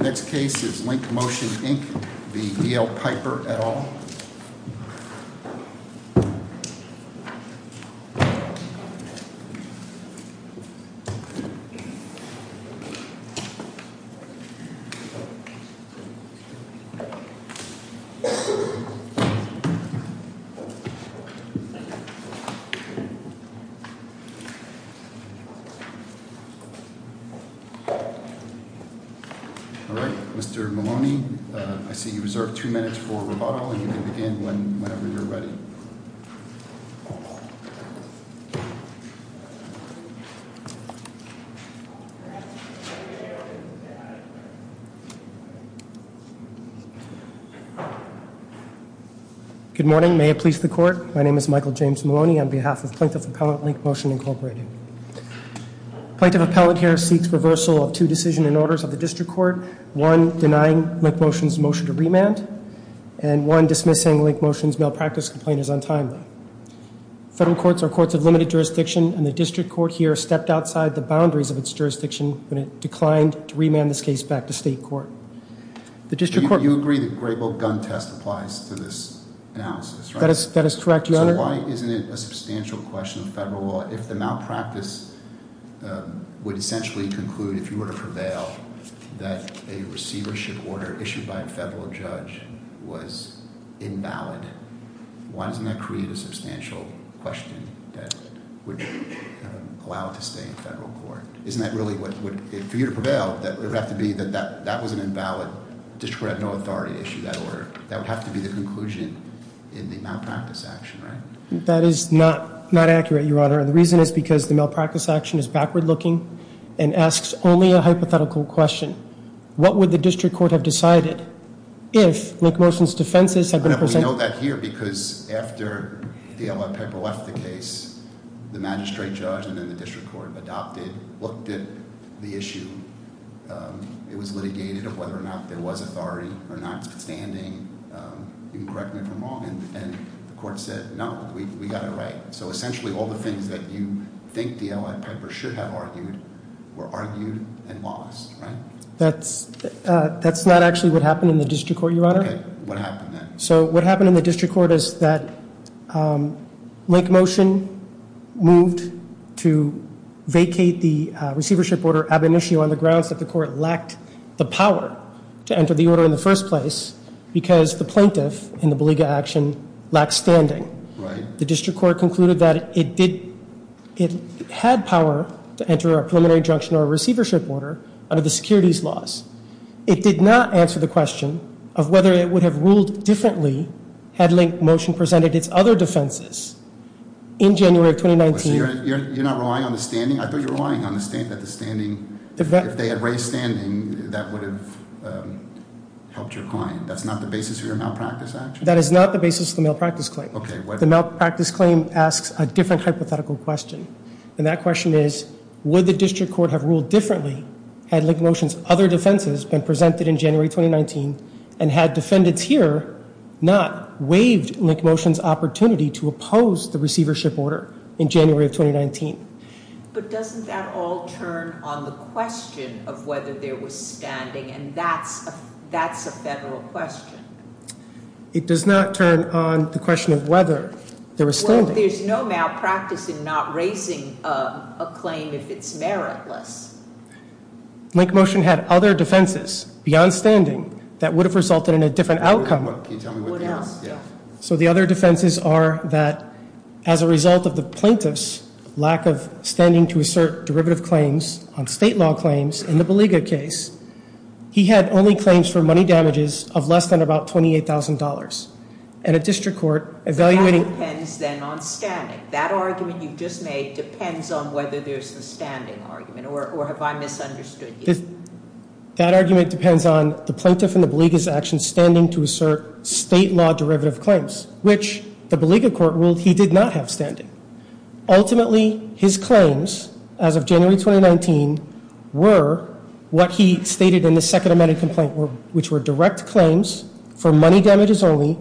Next case is Link Motion Inc. v. DLA Piper LLP Mr. Maloney, I see you reserve two minutes for rebuttal and you can begin whenever you're ready. Good morning. May it please the Court, my name is Michael James Maloney on behalf of Plaintiff Appellant Link Motion Inc. Plaintiff Appellant here seeks reversal of two decisions and orders of the District Court. One, denying Link Motion's motion to remand. And one, dismissing Link Motion's malpractice complaint is untimely. Federal courts are courts of limited jurisdiction and the District Court here stepped outside the boundaries of its jurisdiction when it declined to remand this case back to State Court. You agree that Grable Gun Test applies to this analysis, right? That is correct, Your Honor. So why isn't it a substantial question in federal law if the malpractice would essentially conclude, if you were to prevail, that a receivership order issued by a federal judge was invalid? Why doesn't that create a substantial question that would allow it to stay in federal court? Isn't that really what, for you to prevail, it would have to be that that was an invalid, District Court had no authority to issue that order. That would have to be the conclusion in the malpractice action, right? That is not accurate, Your Honor. The reason is because the malpractice action is backward looking and asks only a hypothetical question. What would the District Court have decided if Link Motion's defenses had been presented- I note that here because after the L.I. Piper left the case, the magistrate judge and then the District Court adopted, looked at the issue. It was litigated of whether or not there was authority or notwithstanding, you can correct me if I'm wrong, and the court said, no, we got it right. So essentially all the things that you think the L.I. Piper should have argued were argued and lost, right? That's not actually what happened in the District Court, Your Honor. Okay, what happened then? So what happened in the District Court is that Link Motion moved to vacate the receivership order ab initio on the grounds that the court lacked the power to enter the order in the first place because the plaintiff in the beleaguer action lacked standing. Right. The District Court concluded that it had power to enter a preliminary injunction or a receivership order under the securities laws. It did not answer the question of whether it would have ruled differently had Link Motion presented its other defenses in January of 2019. So you're not relying on the standing? I thought you were relying on the standing. If they had raised standing, that would have helped your client. That's not the basis of your malpractice action? That is not the basis of the malpractice claim. Okay, what- The malpractice claim asks a different hypothetical question, and that question is, would the District Court have ruled differently had Link Motion's other defenses been presented in January 2019 and had defendants here not waived Link Motion's opportunity to oppose the receivership order in January of 2019? But doesn't that all turn on the question of whether there was standing, and that's a federal question? It does not turn on the question of whether there was standing. But there's no malpractice in not raising a claim if it's meritless. Link Motion had other defenses beyond standing that would have resulted in a different outcome. What else? So the other defenses are that as a result of the plaintiff's lack of standing to assert derivative claims on state law claims in the Baliga case, he had only claims for money damages of less than about $28,000. And a District Court evaluating- That depends then on standing. That argument you just made depends on whether there's a standing argument, or have I misunderstood you? That argument depends on the plaintiff in the Baliga's action standing to assert state law derivative claims, which the Baliga court ruled he did not have standing. Ultimately, his claims as of January 2019 were what he stated in the second amended complaint, which were direct claims for money damages only,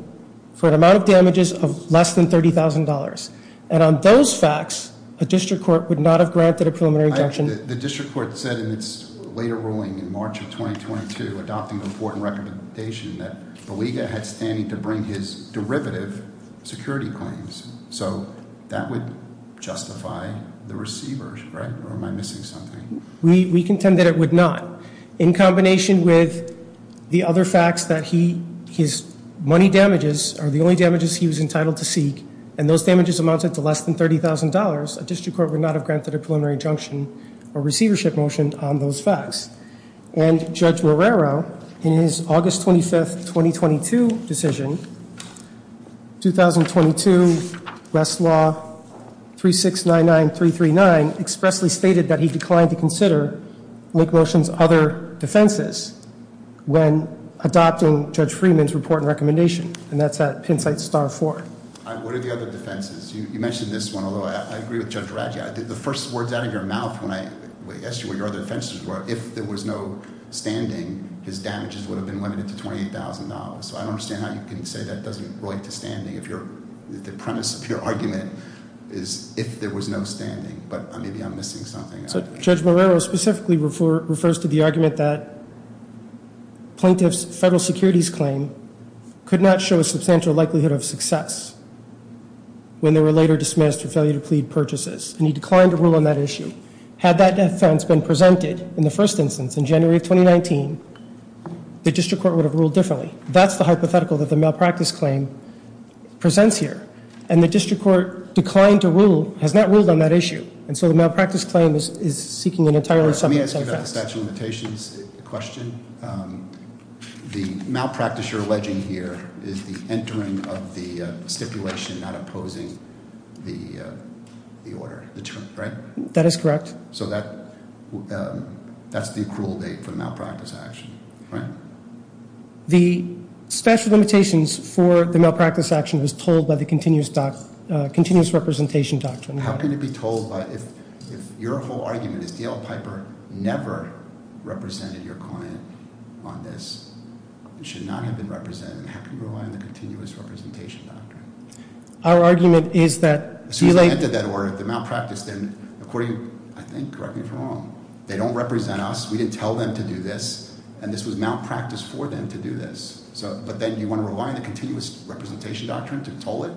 for an amount of damages of less than $30,000. And on those facts, a District Court would not have granted a preliminary injunction. The District Court said in its later ruling in March of 2022, adopting an important recommendation, that Baliga had standing to bring his derivative security claims. So that would justify the receivers, right? Or am I missing something? We contend that it would not. In combination with the other facts that his money damages are the only damages he was entitled to seek, and those damages amounted to less than $30,000, a District Court would not have granted a preliminary injunction or receivership motion on those facts. And Judge Morrero, in his August 25th, 2022 decision, 2022 West Law 3699339, expressly stated that he declined to consider Lake Motion's other defenses when adopting Judge Freeman's report and recommendation. And that's at Pennsite Star 4. What are the other defenses? You mentioned this one, although I agree with Judge Radja. The first words out of your mouth when I asked you what your other defenses were, if there was no standing, his damages would have been limited to $28,000. I don't understand how you can say that doesn't relate to standing. The premise of your argument is if there was no standing. But maybe I'm missing something. Judge Morrero specifically refers to the argument that plaintiff's federal securities claim could not show a substantial likelihood of success when they were later dismissed for failure to plead purchases. And he declined to rule on that issue. Had that defense been presented in the first instance in January of 2019, the district court would have ruled differently. That's the hypothetical that the malpractice claim presents here. And the district court declined to rule, has not ruled on that issue. And so the malpractice claim is seeking an entirely separate success. Let me ask you about the statute of limitations question. The malpractice you're alleging here is the entering of the stipulation, not opposing the order, the term, right? That is correct. So that's the accrual date for the malpractice action, right? The statute of limitations for the malpractice action is told by the continuous representation doctrine. How can it be told if your whole argument is D.L. Piper never represented your client on this? It should not have been represented. How can you rely on the continuous representation doctrine? Our argument is that relate. If they entered that order, the malpractice, then according, I think, correct me if I'm wrong. They don't represent us. We didn't tell them to do this. And this was malpractice for them to do this. But then you want to rely on the continuous representation doctrine to toll it?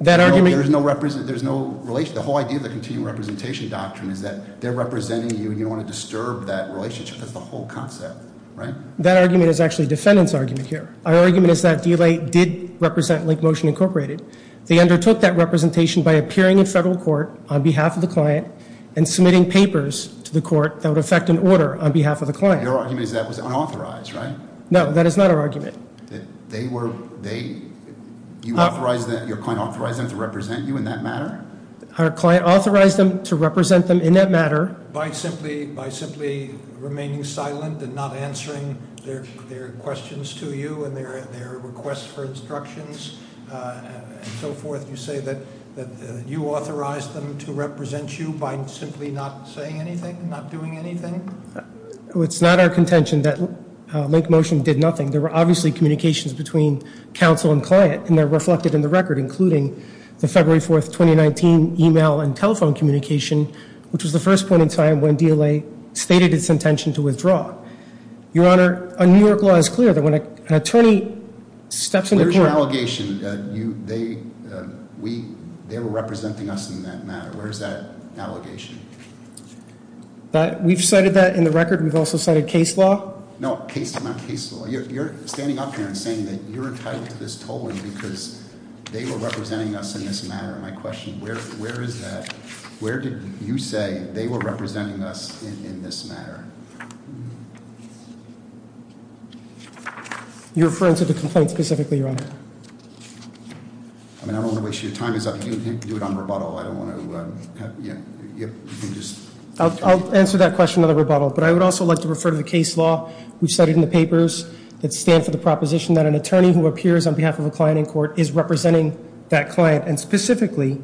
That argument- There's no relation. The whole idea of the continuous representation doctrine is that they're representing you, and you don't want to disturb that relationship. That's the whole concept, right? That argument is actually defendant's argument here. Our argument is that D.L.A. did represent Link Motion Incorporated. They undertook that representation by appearing in federal court on behalf of the client and submitting papers to the court that would affect an order on behalf of the client. Your argument is that was unauthorized, right? No. That is not our argument. They were- Your client authorized them to represent you in that matter? Our client authorized them to represent them in that matter. By simply remaining silent and not answering their questions to you and their requests for instructions and so forth, you say that you authorized them to represent you by simply not saying anything, not doing anything? It's not our contention that Link Motion did nothing. There were obviously communications between counsel and client, and they're reflected in the record, including the February 4, 2019, email and telephone communication, which was the first point in time when D.L.A. stated its intention to withdraw. Your Honor, a New York law is clear that when an attorney steps into court- Where's your allegation that they were representing us in that matter? Where is that allegation? We've cited that in the record. We've also cited case law. No, not case law. You're standing up here and saying that you're entitled to this tolling because they were representing us in this matter. My question, where is that? Where did you say they were representing us in this matter? You're referring to the complaint specifically, Your Honor. I don't want to waste your time. Do it on rebuttal. I don't want to- I'll answer that question on the rebuttal, but I would also like to refer to the case law. We cited in the papers that stand for the proposition that an attorney who appears on behalf of a client in court is representing that client, and specifically,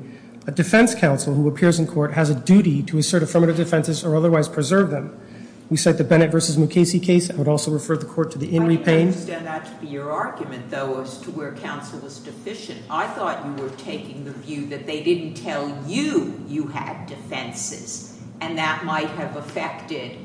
a defense counsel who appears in court has a duty to assert affirmative defenses or otherwise preserve them. We cite the Bennett v. Mukasey case. I would also refer the court to the in repaying- I didn't understand that to be your argument, though, as to where counsel was deficient. I thought you were taking the view that they didn't tell you you had defenses, and that might have affected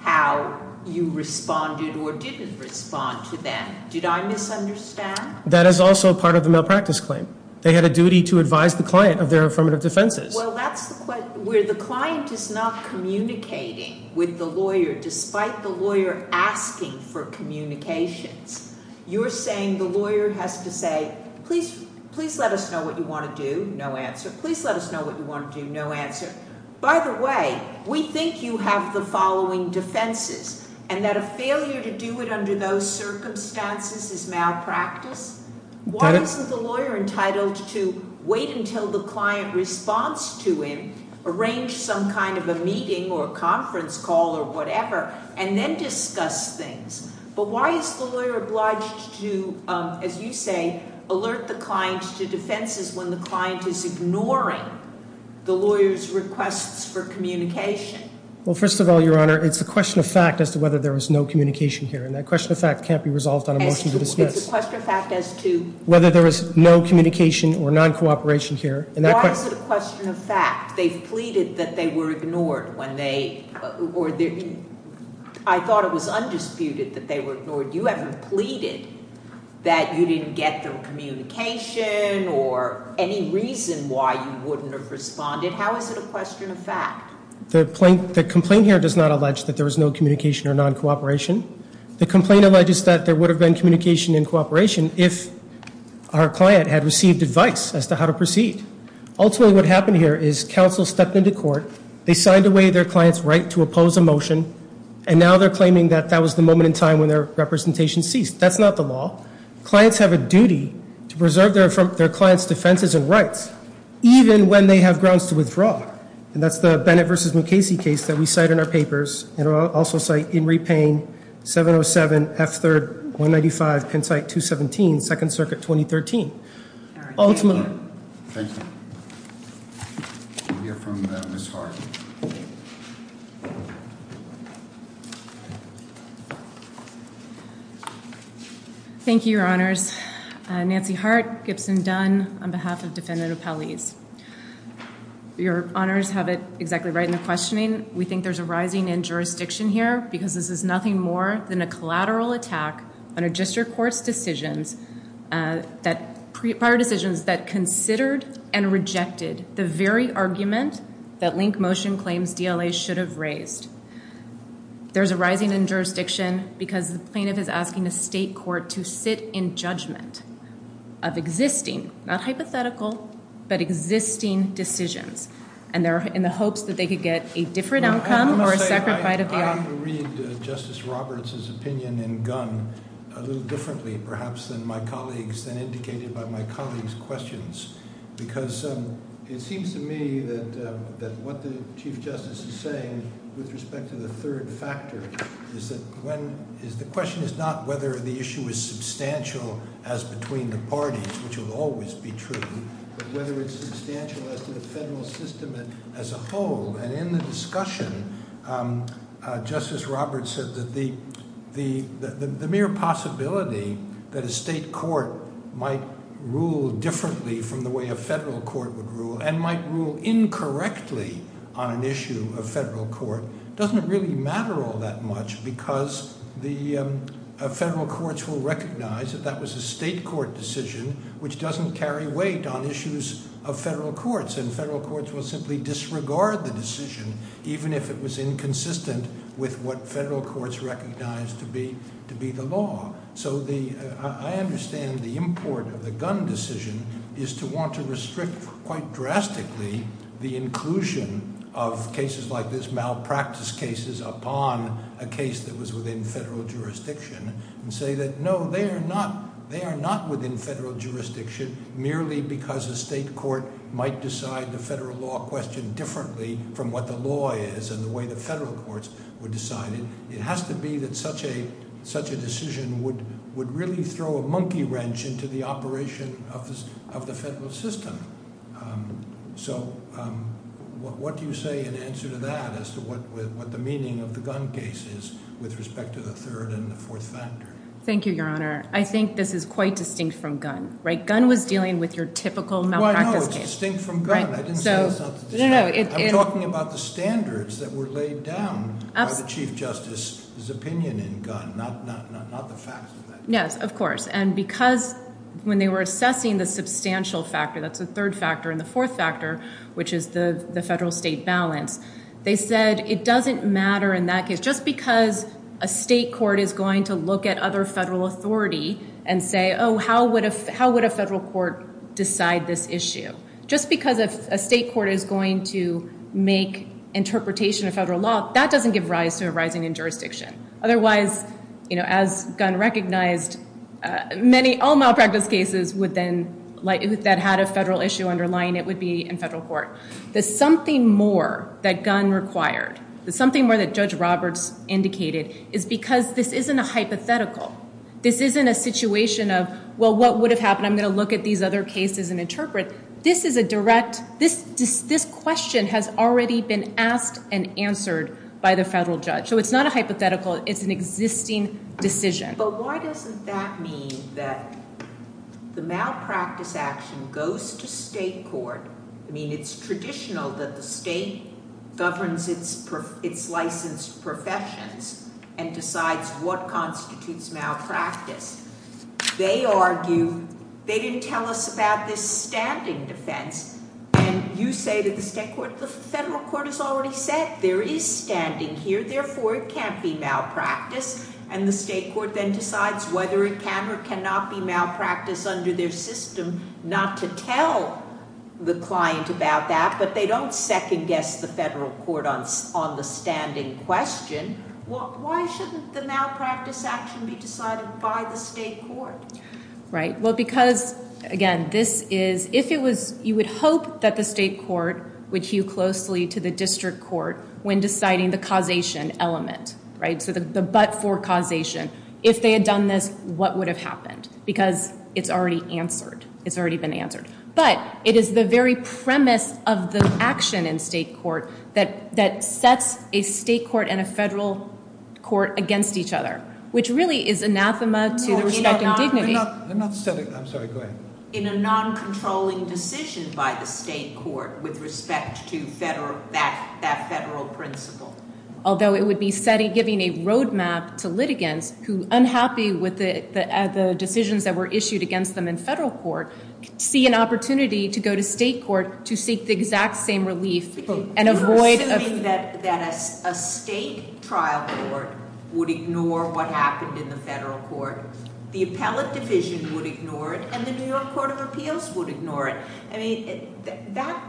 how you responded or didn't respond to them. Did I misunderstand? That is also part of the malpractice claim. They had a duty to advise the client of their affirmative defenses. Well, that's where the client is not communicating with the lawyer despite the lawyer asking for communications. You're saying the lawyer has to say, please let us know what you want to do. No answer. Please let us know what you want to do. No answer. By the way, we think you have the following defenses, and that a failure to do it under those circumstances is malpractice. Why isn't the lawyer entitled to wait until the client responds to him, arrange some kind of a meeting or a conference call or whatever, and then discuss things? But why is the lawyer obliged to, as you say, alert the client to defenses when the client is ignoring the lawyer's requests for communication? Well, first of all, Your Honor, it's a question of fact as to whether there was no communication here, and that question of fact can't be resolved on a motion to dismiss. It's a question of fact as to- Whether there was no communication or non-cooperation here. Why is it a question of fact? They've pleaded that they were ignored when they, or I thought it was undisputed that they were ignored. You haven't pleaded that you didn't get their communication or any reason why you wouldn't have responded. How is it a question of fact? The complaint here does not allege that there was no communication or non-cooperation. The complaint alleges that there would have been communication and cooperation if our client had received advice as to how to proceed. Ultimately, what happened here is counsel stepped into court, they signed away their client's right to oppose a motion, and now they're claiming that that was the moment in time when their representation ceased. That's not the law. Clients have a duty to preserve their client's defenses and rights, even when they have grounds to withdraw. And that's the Bennett v. Mukasey case that we cite in our papers, and I'll also cite Inree Payne, 707 F3-195, Pennsite 217, 2nd Circuit, 2013. Ultimately. Thank you. We'll hear from Ms. Hart. Thank you, Your Honors. Nancy Hart, Gibson Dunn, on behalf of Defendant O'Powleys. Your Honors have it exactly right in the questioning. We think there's a rising in jurisdiction here because this is nothing more than a collateral attack on a district court's decisions, prior decisions that considered and rejected the very argument that link motion claims DLA should have raised. There's a rising in jurisdiction because the plaintiff is asking a state court to sit in judgment of existing, not hypothetical, but existing decisions, and they're in the hopes that they could get a different outcome or a separate fight of the argument. I'm going to read Justice Roberts' opinion in Gunn a little differently perhaps than my colleagues, than indicated by my colleagues' questions, because it seems to me that what the Chief Justice is saying with respect to the third factor is that the question is not whether the issue is substantial as between the parties, which will always be true, but whether it's substantial as to the federal system as a whole. And in the discussion, Justice Roberts said that the mere possibility that a state court might rule differently from the way a federal court would rule and might rule incorrectly on an issue of federal court doesn't really matter all that much because the federal courts will recognize that that was a state court decision, which doesn't carry weight on issues of federal courts, and federal courts will simply disregard the decision, even if it was inconsistent with what federal courts recognize to be the law. So I understand the import of the Gunn decision is to want to restrict quite drastically the inclusion of cases like this, malpractice cases, upon a case that was within federal jurisdiction and say that no, they are not within federal jurisdiction merely because a state court might decide the federal law question differently from what the law is and the way the federal courts would decide it. It has to be that such a decision would really throw a monkey wrench into the operation of the federal system. So what do you say in answer to that as to what the meaning of the Gunn case is with respect to the third and the fourth factor? Thank you, Your Honor. I think this is quite distinct from Gunn, right? Gunn was dealing with your typical malpractice case. Well, I know it's distinct from Gunn. I didn't say it's not distinct. I'm talking about the standards that were laid down by the Chief Justice's opinion in Gunn, not the facts of that case. Yes, of course. And because when they were assessing the substantial factor, that's the third factor, and the fourth factor, which is the federal-state balance, they said it doesn't matter in that case. Just because a state court is going to look at other federal authority and say, oh, how would a federal court decide this issue? Just because a state court is going to make interpretation of federal law, that doesn't give rise to a rising in jurisdiction. Otherwise, as Gunn recognized, all malpractice cases that had a federal issue underlying it would be in federal court. The something more that Gunn required, the something more that Judge Roberts indicated, is because this isn't a hypothetical. This isn't a situation of, well, what would have happened? I'm going to look at these other cases and interpret. This question has already been asked and answered by the federal judge. So it's not a hypothetical. It's an existing decision. But why doesn't that mean that the malpractice action goes to state court? I mean, it's traditional that the state governs its licensed professions and decides what constitutes malpractice. They argue, they didn't tell us about this standing defense. And you say to the state court, the federal court has already said there is standing here. Therefore, it can't be malpractice. And the state court then decides whether it can or cannot be malpractice under their system not to tell the client about that. But they don't second guess the federal court on the standing question. Why shouldn't the malpractice action be decided by the state court? Well, because, again, you would hope that the state court would hew closely to the district court when deciding the causation element. So the but for causation. If they had done this, what would have happened? Because it's already answered. It's already been answered. But it is the very premise of the action in state court that sets a state court and a federal court against each other, which really is anathema to respect and dignity. I'm sorry, go ahead. In a non-controlling decision by the state court with respect to that federal principle. Although it would be giving a roadmap to litigants who, unhappy with the decisions that were issued against them in federal court, see an opportunity to go to state court to seek the exact same relief and avoid- You're saying that a state trial court would ignore what happened in the federal court, the appellate division would ignore it, and the New York Court of Appeals would ignore it. I mean, that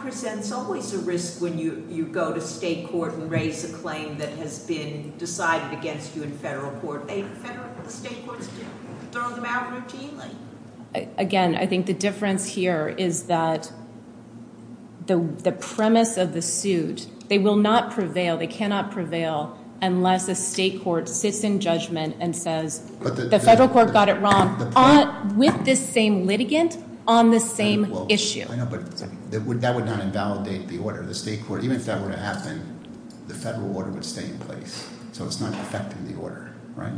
presents always a risk when you go to state court and raise a claim that has been decided against you in federal court. The state courts throw them out routinely. Again, I think the difference here is that the premise of the suit, they will not prevail, they cannot prevail unless a state court sits in judgment and says, the federal court got it wrong with this same litigant on the same issue. I know, but that would not invalidate the order. The state court, even if that were to happen, the federal order would stay in place. So it's not affecting the order, right?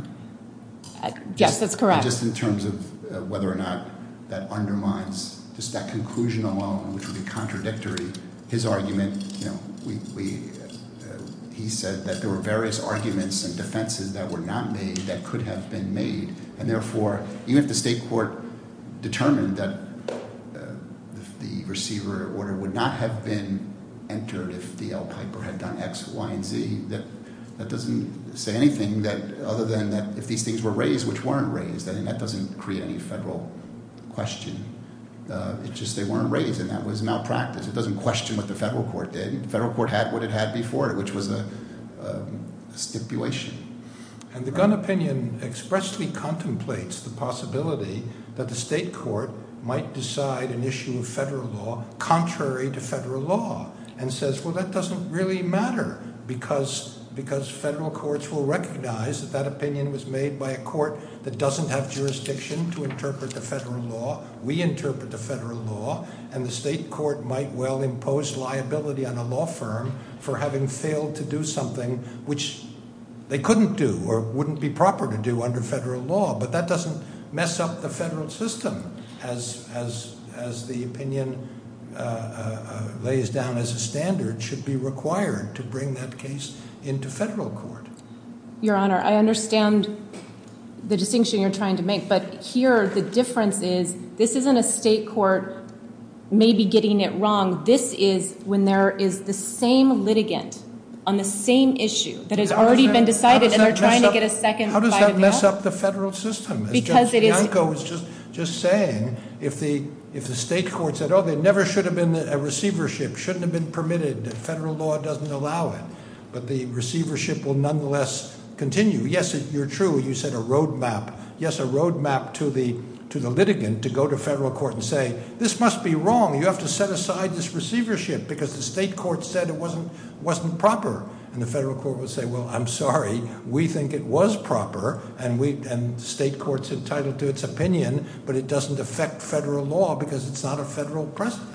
Yes, that's correct. Just in terms of whether or not that undermines just that conclusion alone, which would be contradictory, his argument, he said that there were various arguments and defenses that were not made that could have been made, and therefore, even if the state court determined that the receiver order would not have been entered if D. L. Piper had done X, Y, and Z, that doesn't say anything other than that if these things were raised, which weren't raised, then that doesn't create any federal question. It's just they weren't raised, and that was malpractice. It doesn't question what the federal court did. The federal court had what it had before it, which was a stipulation. And the Gunn opinion expressly contemplates the possibility that the state court might decide an issue of federal law contrary to federal law and says, well, that doesn't really matter because federal courts will recognize that that opinion was made by a court that doesn't have jurisdiction to interpret the federal law. We interpret the federal law, and the state court might well impose liability on a law firm for having failed to do something, which they couldn't do or wouldn't be proper to do under federal law. But that doesn't mess up the federal system as the opinion lays down as a standard should be required to bring that case into federal court. Your Honor, I understand the distinction you're trying to make, but here the difference is this isn't a state court maybe getting it wrong. This is when there is the same litigant on the same issue that has already been decided, and they're trying to get a second- How does that mess up the federal system? Because it is- As Judge Bianco was just saying, if the state court said, oh, there never should have been a receivership, shouldn't have been permitted, federal law doesn't allow it, but the receivership will nonetheless continue. Yes, you're true. You set a roadmap. Yes, a roadmap to the litigant to go to federal court and say, this must be wrong. You have to set aside this receivership because the state court said it wasn't proper. And the federal court would say, well, I'm sorry. We think it was proper, and the state court's entitled to its opinion, but it doesn't affect federal law because it's not a federal precedent.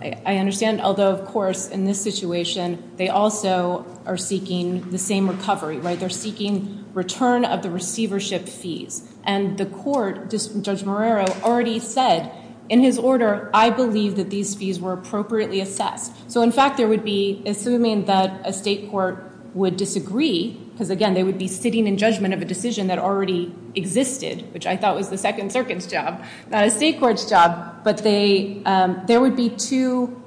I understand, although, of course, in this situation, they also are seeking the same recovery, right? They're seeking return of the receivership fees. And the court, Judge Marrero, already said in his order, I believe that these fees were appropriately assessed. So, in fact, there would be, assuming that a state court would disagree, because, again, they would be sitting in judgment of a decision that already existed, which I thought was the Second Circuit's job, not a state court's job, but there would be two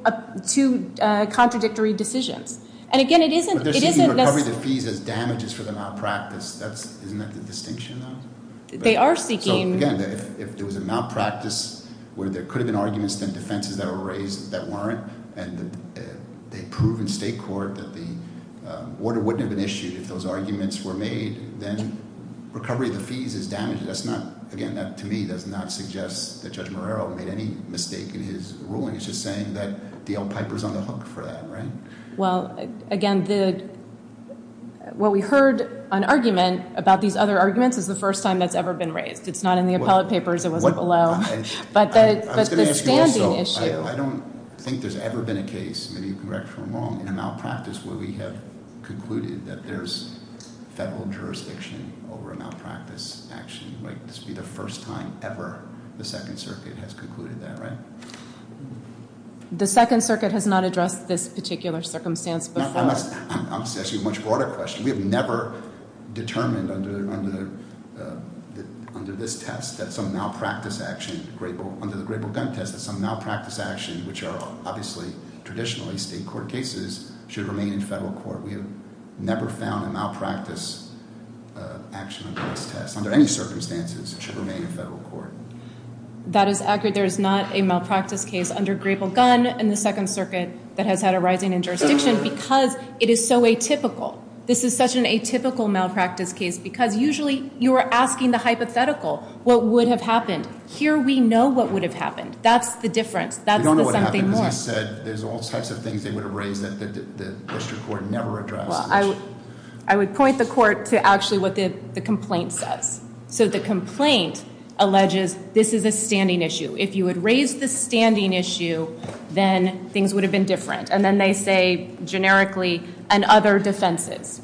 contradictory decisions. And, again, it isn't- But they're seeking recovery of the fees as damages for the malpractice. Isn't that the distinction, though? They are seeking- So, again, if there was a malpractice where there could have been arguments and defenses that were raised that weren't, and they prove in state court that the order wouldn't have been issued if those arguments were made, then recovery of the fees is damages. That's not-again, that, to me, does not suggest that Judge Marrero made any mistake in his ruling. It's just saying that D. L. Piper's on the hook for that, right? Well, again, what we heard on argument about these other arguments is the first time that's ever been raised. It's not in the appellate papers. It wasn't below. I was going to ask you also, I don't think there's ever been a case, maybe you can correct me if I'm wrong, in a malpractice where we have concluded that there's federal jurisdiction over a malpractice action, right? This would be the first time ever the Second Circuit has concluded that, right? The Second Circuit has not addressed this particular circumstance before. I'm going to ask you a much broader question. We have never determined under this test that some malpractice action, under the Grable gun test, that some malpractice action, which are obviously traditionally state court cases, should remain in federal court. We have never found a malpractice action under this test, under any circumstances, should remain in federal court. That is accurate. There is not a malpractice case under Grable gun in the Second Circuit that has had a rising in jurisdiction because it is so atypical. This is such an atypical malpractice case because usually you are asking the hypothetical, what would have happened? Here we know what would have happened. That's the difference. That's the something more. We don't know what happened because you said there's all types of things they would have raised that the district court never addresses. Well, I would point the court to actually what the complaint says. So the complaint alleges this is a standing issue. If you had raised the standing issue, then things would have been different. And then they say, generically, and other defenses.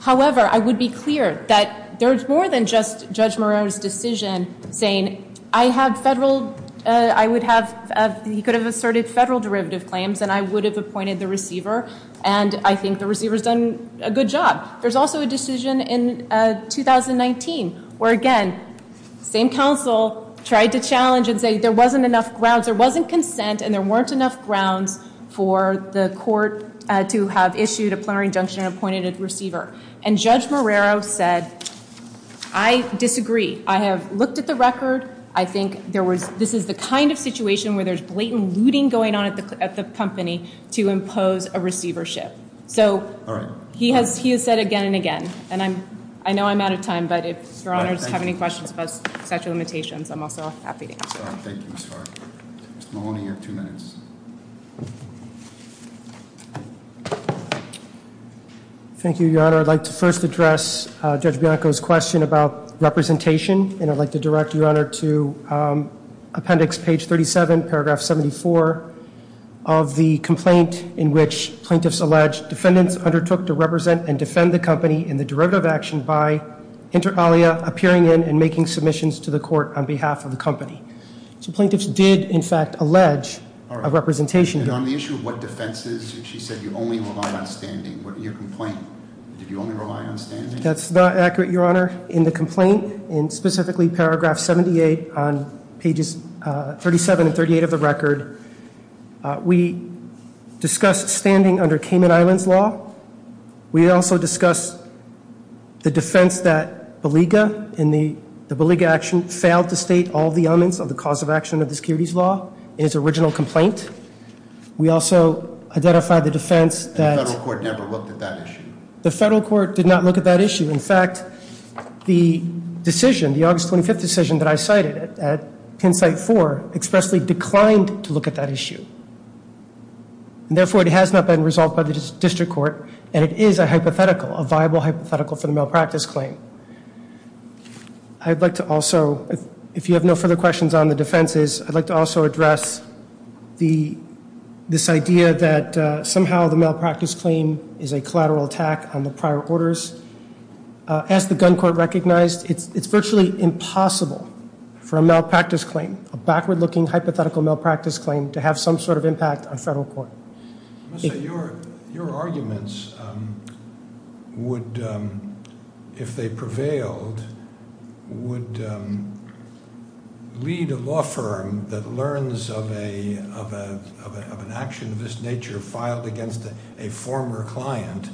However, I would be clear that there's more than just Judge Moreau's decision saying, I have federal, I would have, he could have asserted federal derivative claims, and I would have appointed the receiver, and I think the receiver's done a good job. There's also a decision in 2019 where, again, same counsel tried to challenge and say there wasn't enough grounds, there wasn't consent, and there weren't enough grounds for the court to have issued a plenary injunction and appointed a receiver. And Judge Moreau said, I disagree. I have looked at the record. I think this is the kind of situation where there's blatant looting going on at the company to impose a receivership. So he has said again and again, and I know I'm out of time, but if your honors have any questions about statute of limitations, I'm also happy to answer them. Thank you, Ms. Farber. Mr. Maloney, you have two minutes. Thank you, Your Honor. I'd like to first address Judge Bianco's question about representation, and I'd like to direct Your Honor to appendix page 37, paragraph 74, of the complaint in which plaintiffs allege defendants undertook to represent and defend the company in the derivative action by, inter alia, appearing in and making submissions to the court on behalf of the company. So plaintiffs did, in fact, allege a representation. And on the issue of what defenses, she said you only relied on standing. What did you complain? Did you only rely on standing? That's not accurate, Your Honor. In the complaint, and specifically paragraph 78 on pages 37 and 38 of the record, we discussed standing under Cayman Islands law. We also discussed the defense that Belega in the Belega action failed to state all the elements of the cause of action of the securities law in its original complaint. We also identified the defense that- The federal court never looked at that issue. The federal court did not look at that issue. In fact, the decision, the August 25th decision that I cited at Penn Site 4, expressly declined to look at that issue. And therefore, it has not been resolved by the district court, and it is a hypothetical, a viable hypothetical for the malpractice claim. I'd like to also, if you have no further questions on the defenses, I'd like to also address this idea that somehow the malpractice claim is a collateral attack on the prior orders. As the gun court recognized, it's virtually impossible for a malpractice claim, a backward-looking hypothetical malpractice claim, to have some sort of impact on federal court. Your arguments would, if they prevailed, would lead a law firm that learns of an action of this nature filed against a former client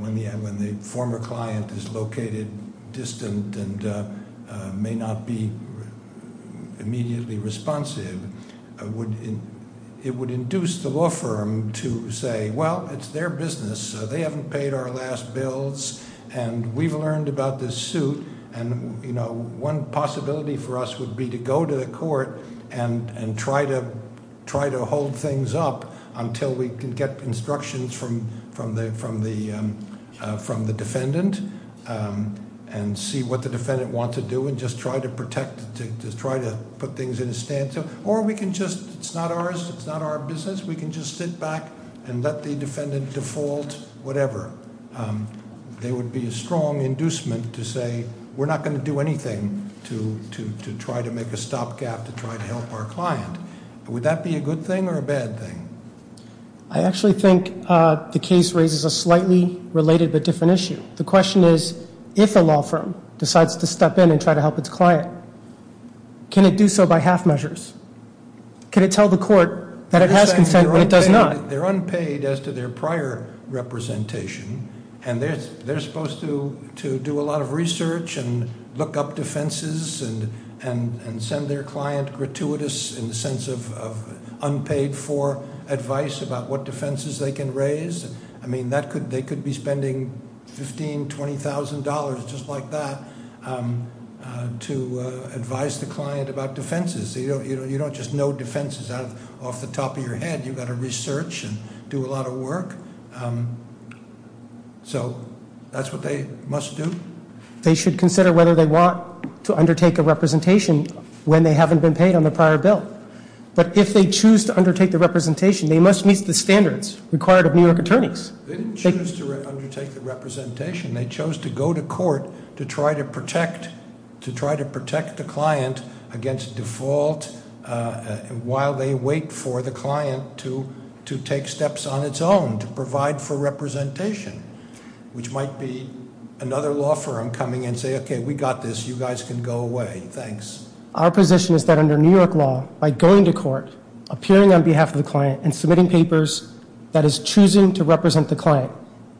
when the former client is located distant and may not be immediately responsive. It would induce the law firm to say, well, it's their business. They haven't paid our last bills, and we've learned about this suit. And one possibility for us would be to go to the court and try to hold things up until we can get instructions from the defendant and see what the defendant wants to do and just try to protect, to try to put things in a stance. Or we can just, it's not ours, it's not our business. We can just sit back and let the defendant default, whatever. There would be a strong inducement to say, we're not going to do anything to try to make a stopgap to try to help our client. Would that be a good thing or a bad thing? I actually think the case raises a slightly related but different issue. The question is, if a law firm decides to step in and try to help its client, can it do so by half measures? Can it tell the court that it has consent but it does not? They're unpaid as to their prior representation, and they're supposed to do a lot of research and look up defenses and send their client gratuitous in the sense of unpaid for advice about what defenses they can raise. I mean, they could be spending $15,000, $20,000, just like that, to advise the client about defenses. You don't just know defenses off the top of your head. You've got to research and do a lot of work. So that's what they must do. They should consider whether they want to undertake a representation when they haven't been paid on the prior bill. But if they choose to undertake the representation, they must meet the standards required of New York attorneys. They didn't choose to undertake the representation. They chose to go to court to try to protect the client against default while they wait for the client to take steps on its own to provide for representation, which might be another law firm coming in and saying, okay, we got this. You guys can go away. Thanks. Our position is that under New York law, by going to court, appearing on behalf of the client, and submitting papers, that is choosing to represent the client.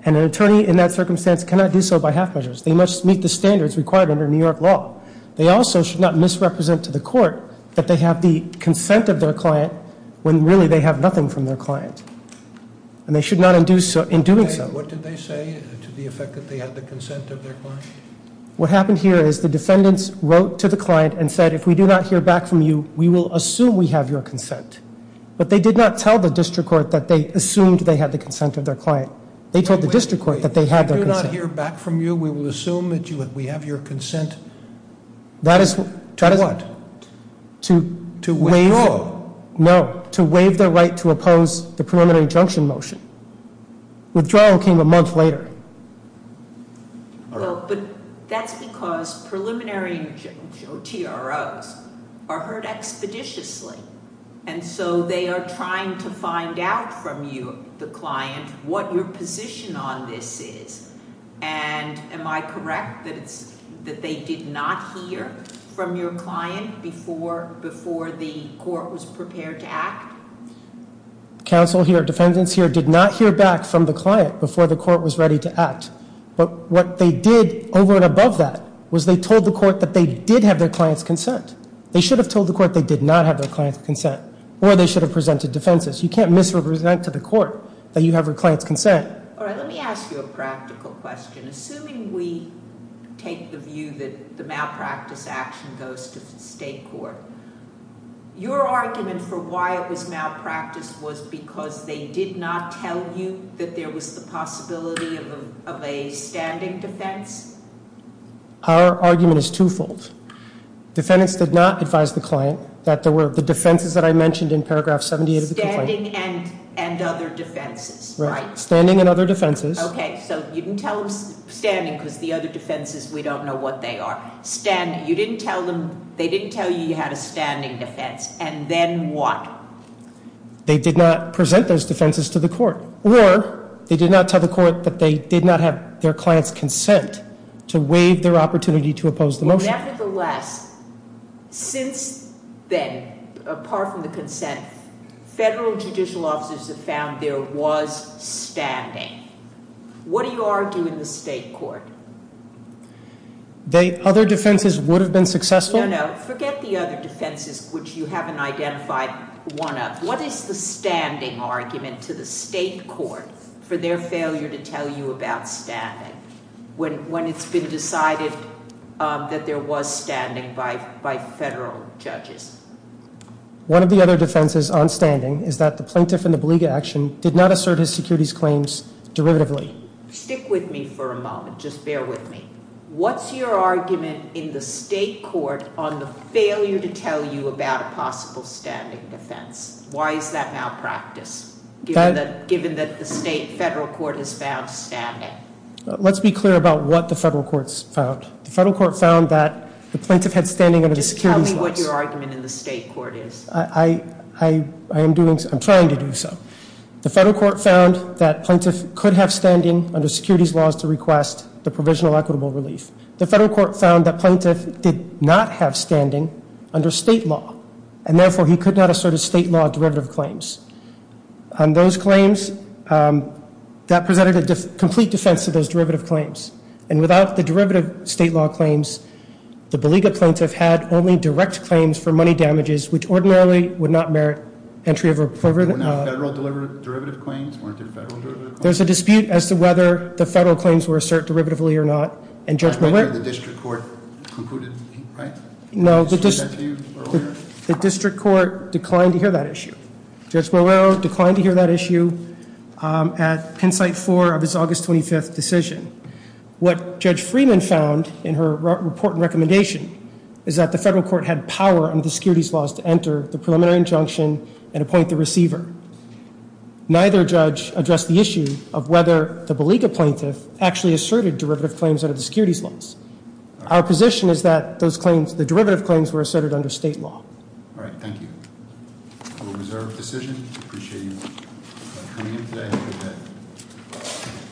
And an attorney in that circumstance cannot do so by half measures. They must meet the standards required under New York law. They also should not misrepresent to the court that they have the consent of their client when really they have nothing from their client. And they should not in doing so. What did they say to the effect that they had the consent of their client? What happened here is the defendants wrote to the client and said, if we do not hear back from you, we will assume we have your consent. But they did not tell the district court that they assumed they had the consent of their client. They told the district court that they had their consent. If we do not hear back from you, we will assume that we have your consent to what? To waive. To withdraw. No. To waive their right to oppose the preliminary injunction motion. Withdrawal came a month later. But that's because preliminary TROs are heard expeditiously. And so they are trying to find out from you, the client, what your position on this is. And am I correct that they did not hear from your client before the court was prepared to act? Counsel here, defendants here, did not hear back from the client before the court was ready to act. But what they did over and above that was they told the court that they did have their client's consent. They should have told the court they did not have their client's consent. Or they should have presented defenses. You can't misrepresent to the court that you have your client's consent. All right, let me ask you a practical question. Assuming we take the view that the malpractice action goes to the state court, your argument for why it was malpractice was because they did not tell you that there was the possibility of a standing defense? Our argument is twofold. Defendants did not advise the client that there were the defenses that I mentioned in paragraph 78 of the complaint. Standing and other defenses, right? Standing and other defenses. Okay, so you didn't tell them standing because the other defenses, we don't know what they are. Standing, you didn't tell them, they didn't tell you you had a standing defense. And then what? They did not present those defenses to the court. Or they did not tell the court that they did not have their client's consent to waive their opportunity to oppose the motion. Nevertheless, since then, apart from the consent, federal judicial officers have found there was standing. What do you argue in the state court? Other defenses would have been successful? No, no. Forget the other defenses, which you haven't identified one of. What is the standing argument to the state court for their failure to tell you about standing when it's been decided that there was standing by federal judges? One of the other defenses on standing is that the plaintiff in the beleaguer action did not assert his securities claims derivatively. Stick with me for a moment, just bear with me. What's your argument in the state court on the failure to tell you about a possible standing defense? Why is that malpractice, given that the state federal court has found standing? Let's be clear about what the federal court's found. The federal court found that the plaintiff had standing under the securities laws. Just tell me what your argument in the state court is. I'm trying to do so. The federal court found that plaintiff could have standing under securities laws to request the provisional equitable relief. The federal court found that plaintiff did not have standing under state law, and therefore he could not assert his state law derivative claims. On those claims, that presented a complete defense to those derivative claims. And without the derivative state law claims, the beleaguer plaintiff had only direct claims for money damages, which ordinarily would not merit entry of a provisional. There were no federal derivative claims? Weren't there federal derivative claims? There's a dispute as to whether the federal claims were asserted derivatively or not, and Judge Molero The district court concluded, right? No, the district court declined to hear that issue. Judge Molero declined to hear that issue at Penn site 4 of his August 25th decision. What Judge Freeman found in her report and recommendation is that the federal court had power under the securities laws to enter the preliminary injunction and appoint the receiver. Neither judge addressed the issue of whether the beleaguer plaintiff actually asserted derivative claims under the securities laws. Our position is that those claims, the derivative claims, were asserted under state law. All right, thank you. I will reserve the decision. Appreciate you coming in today.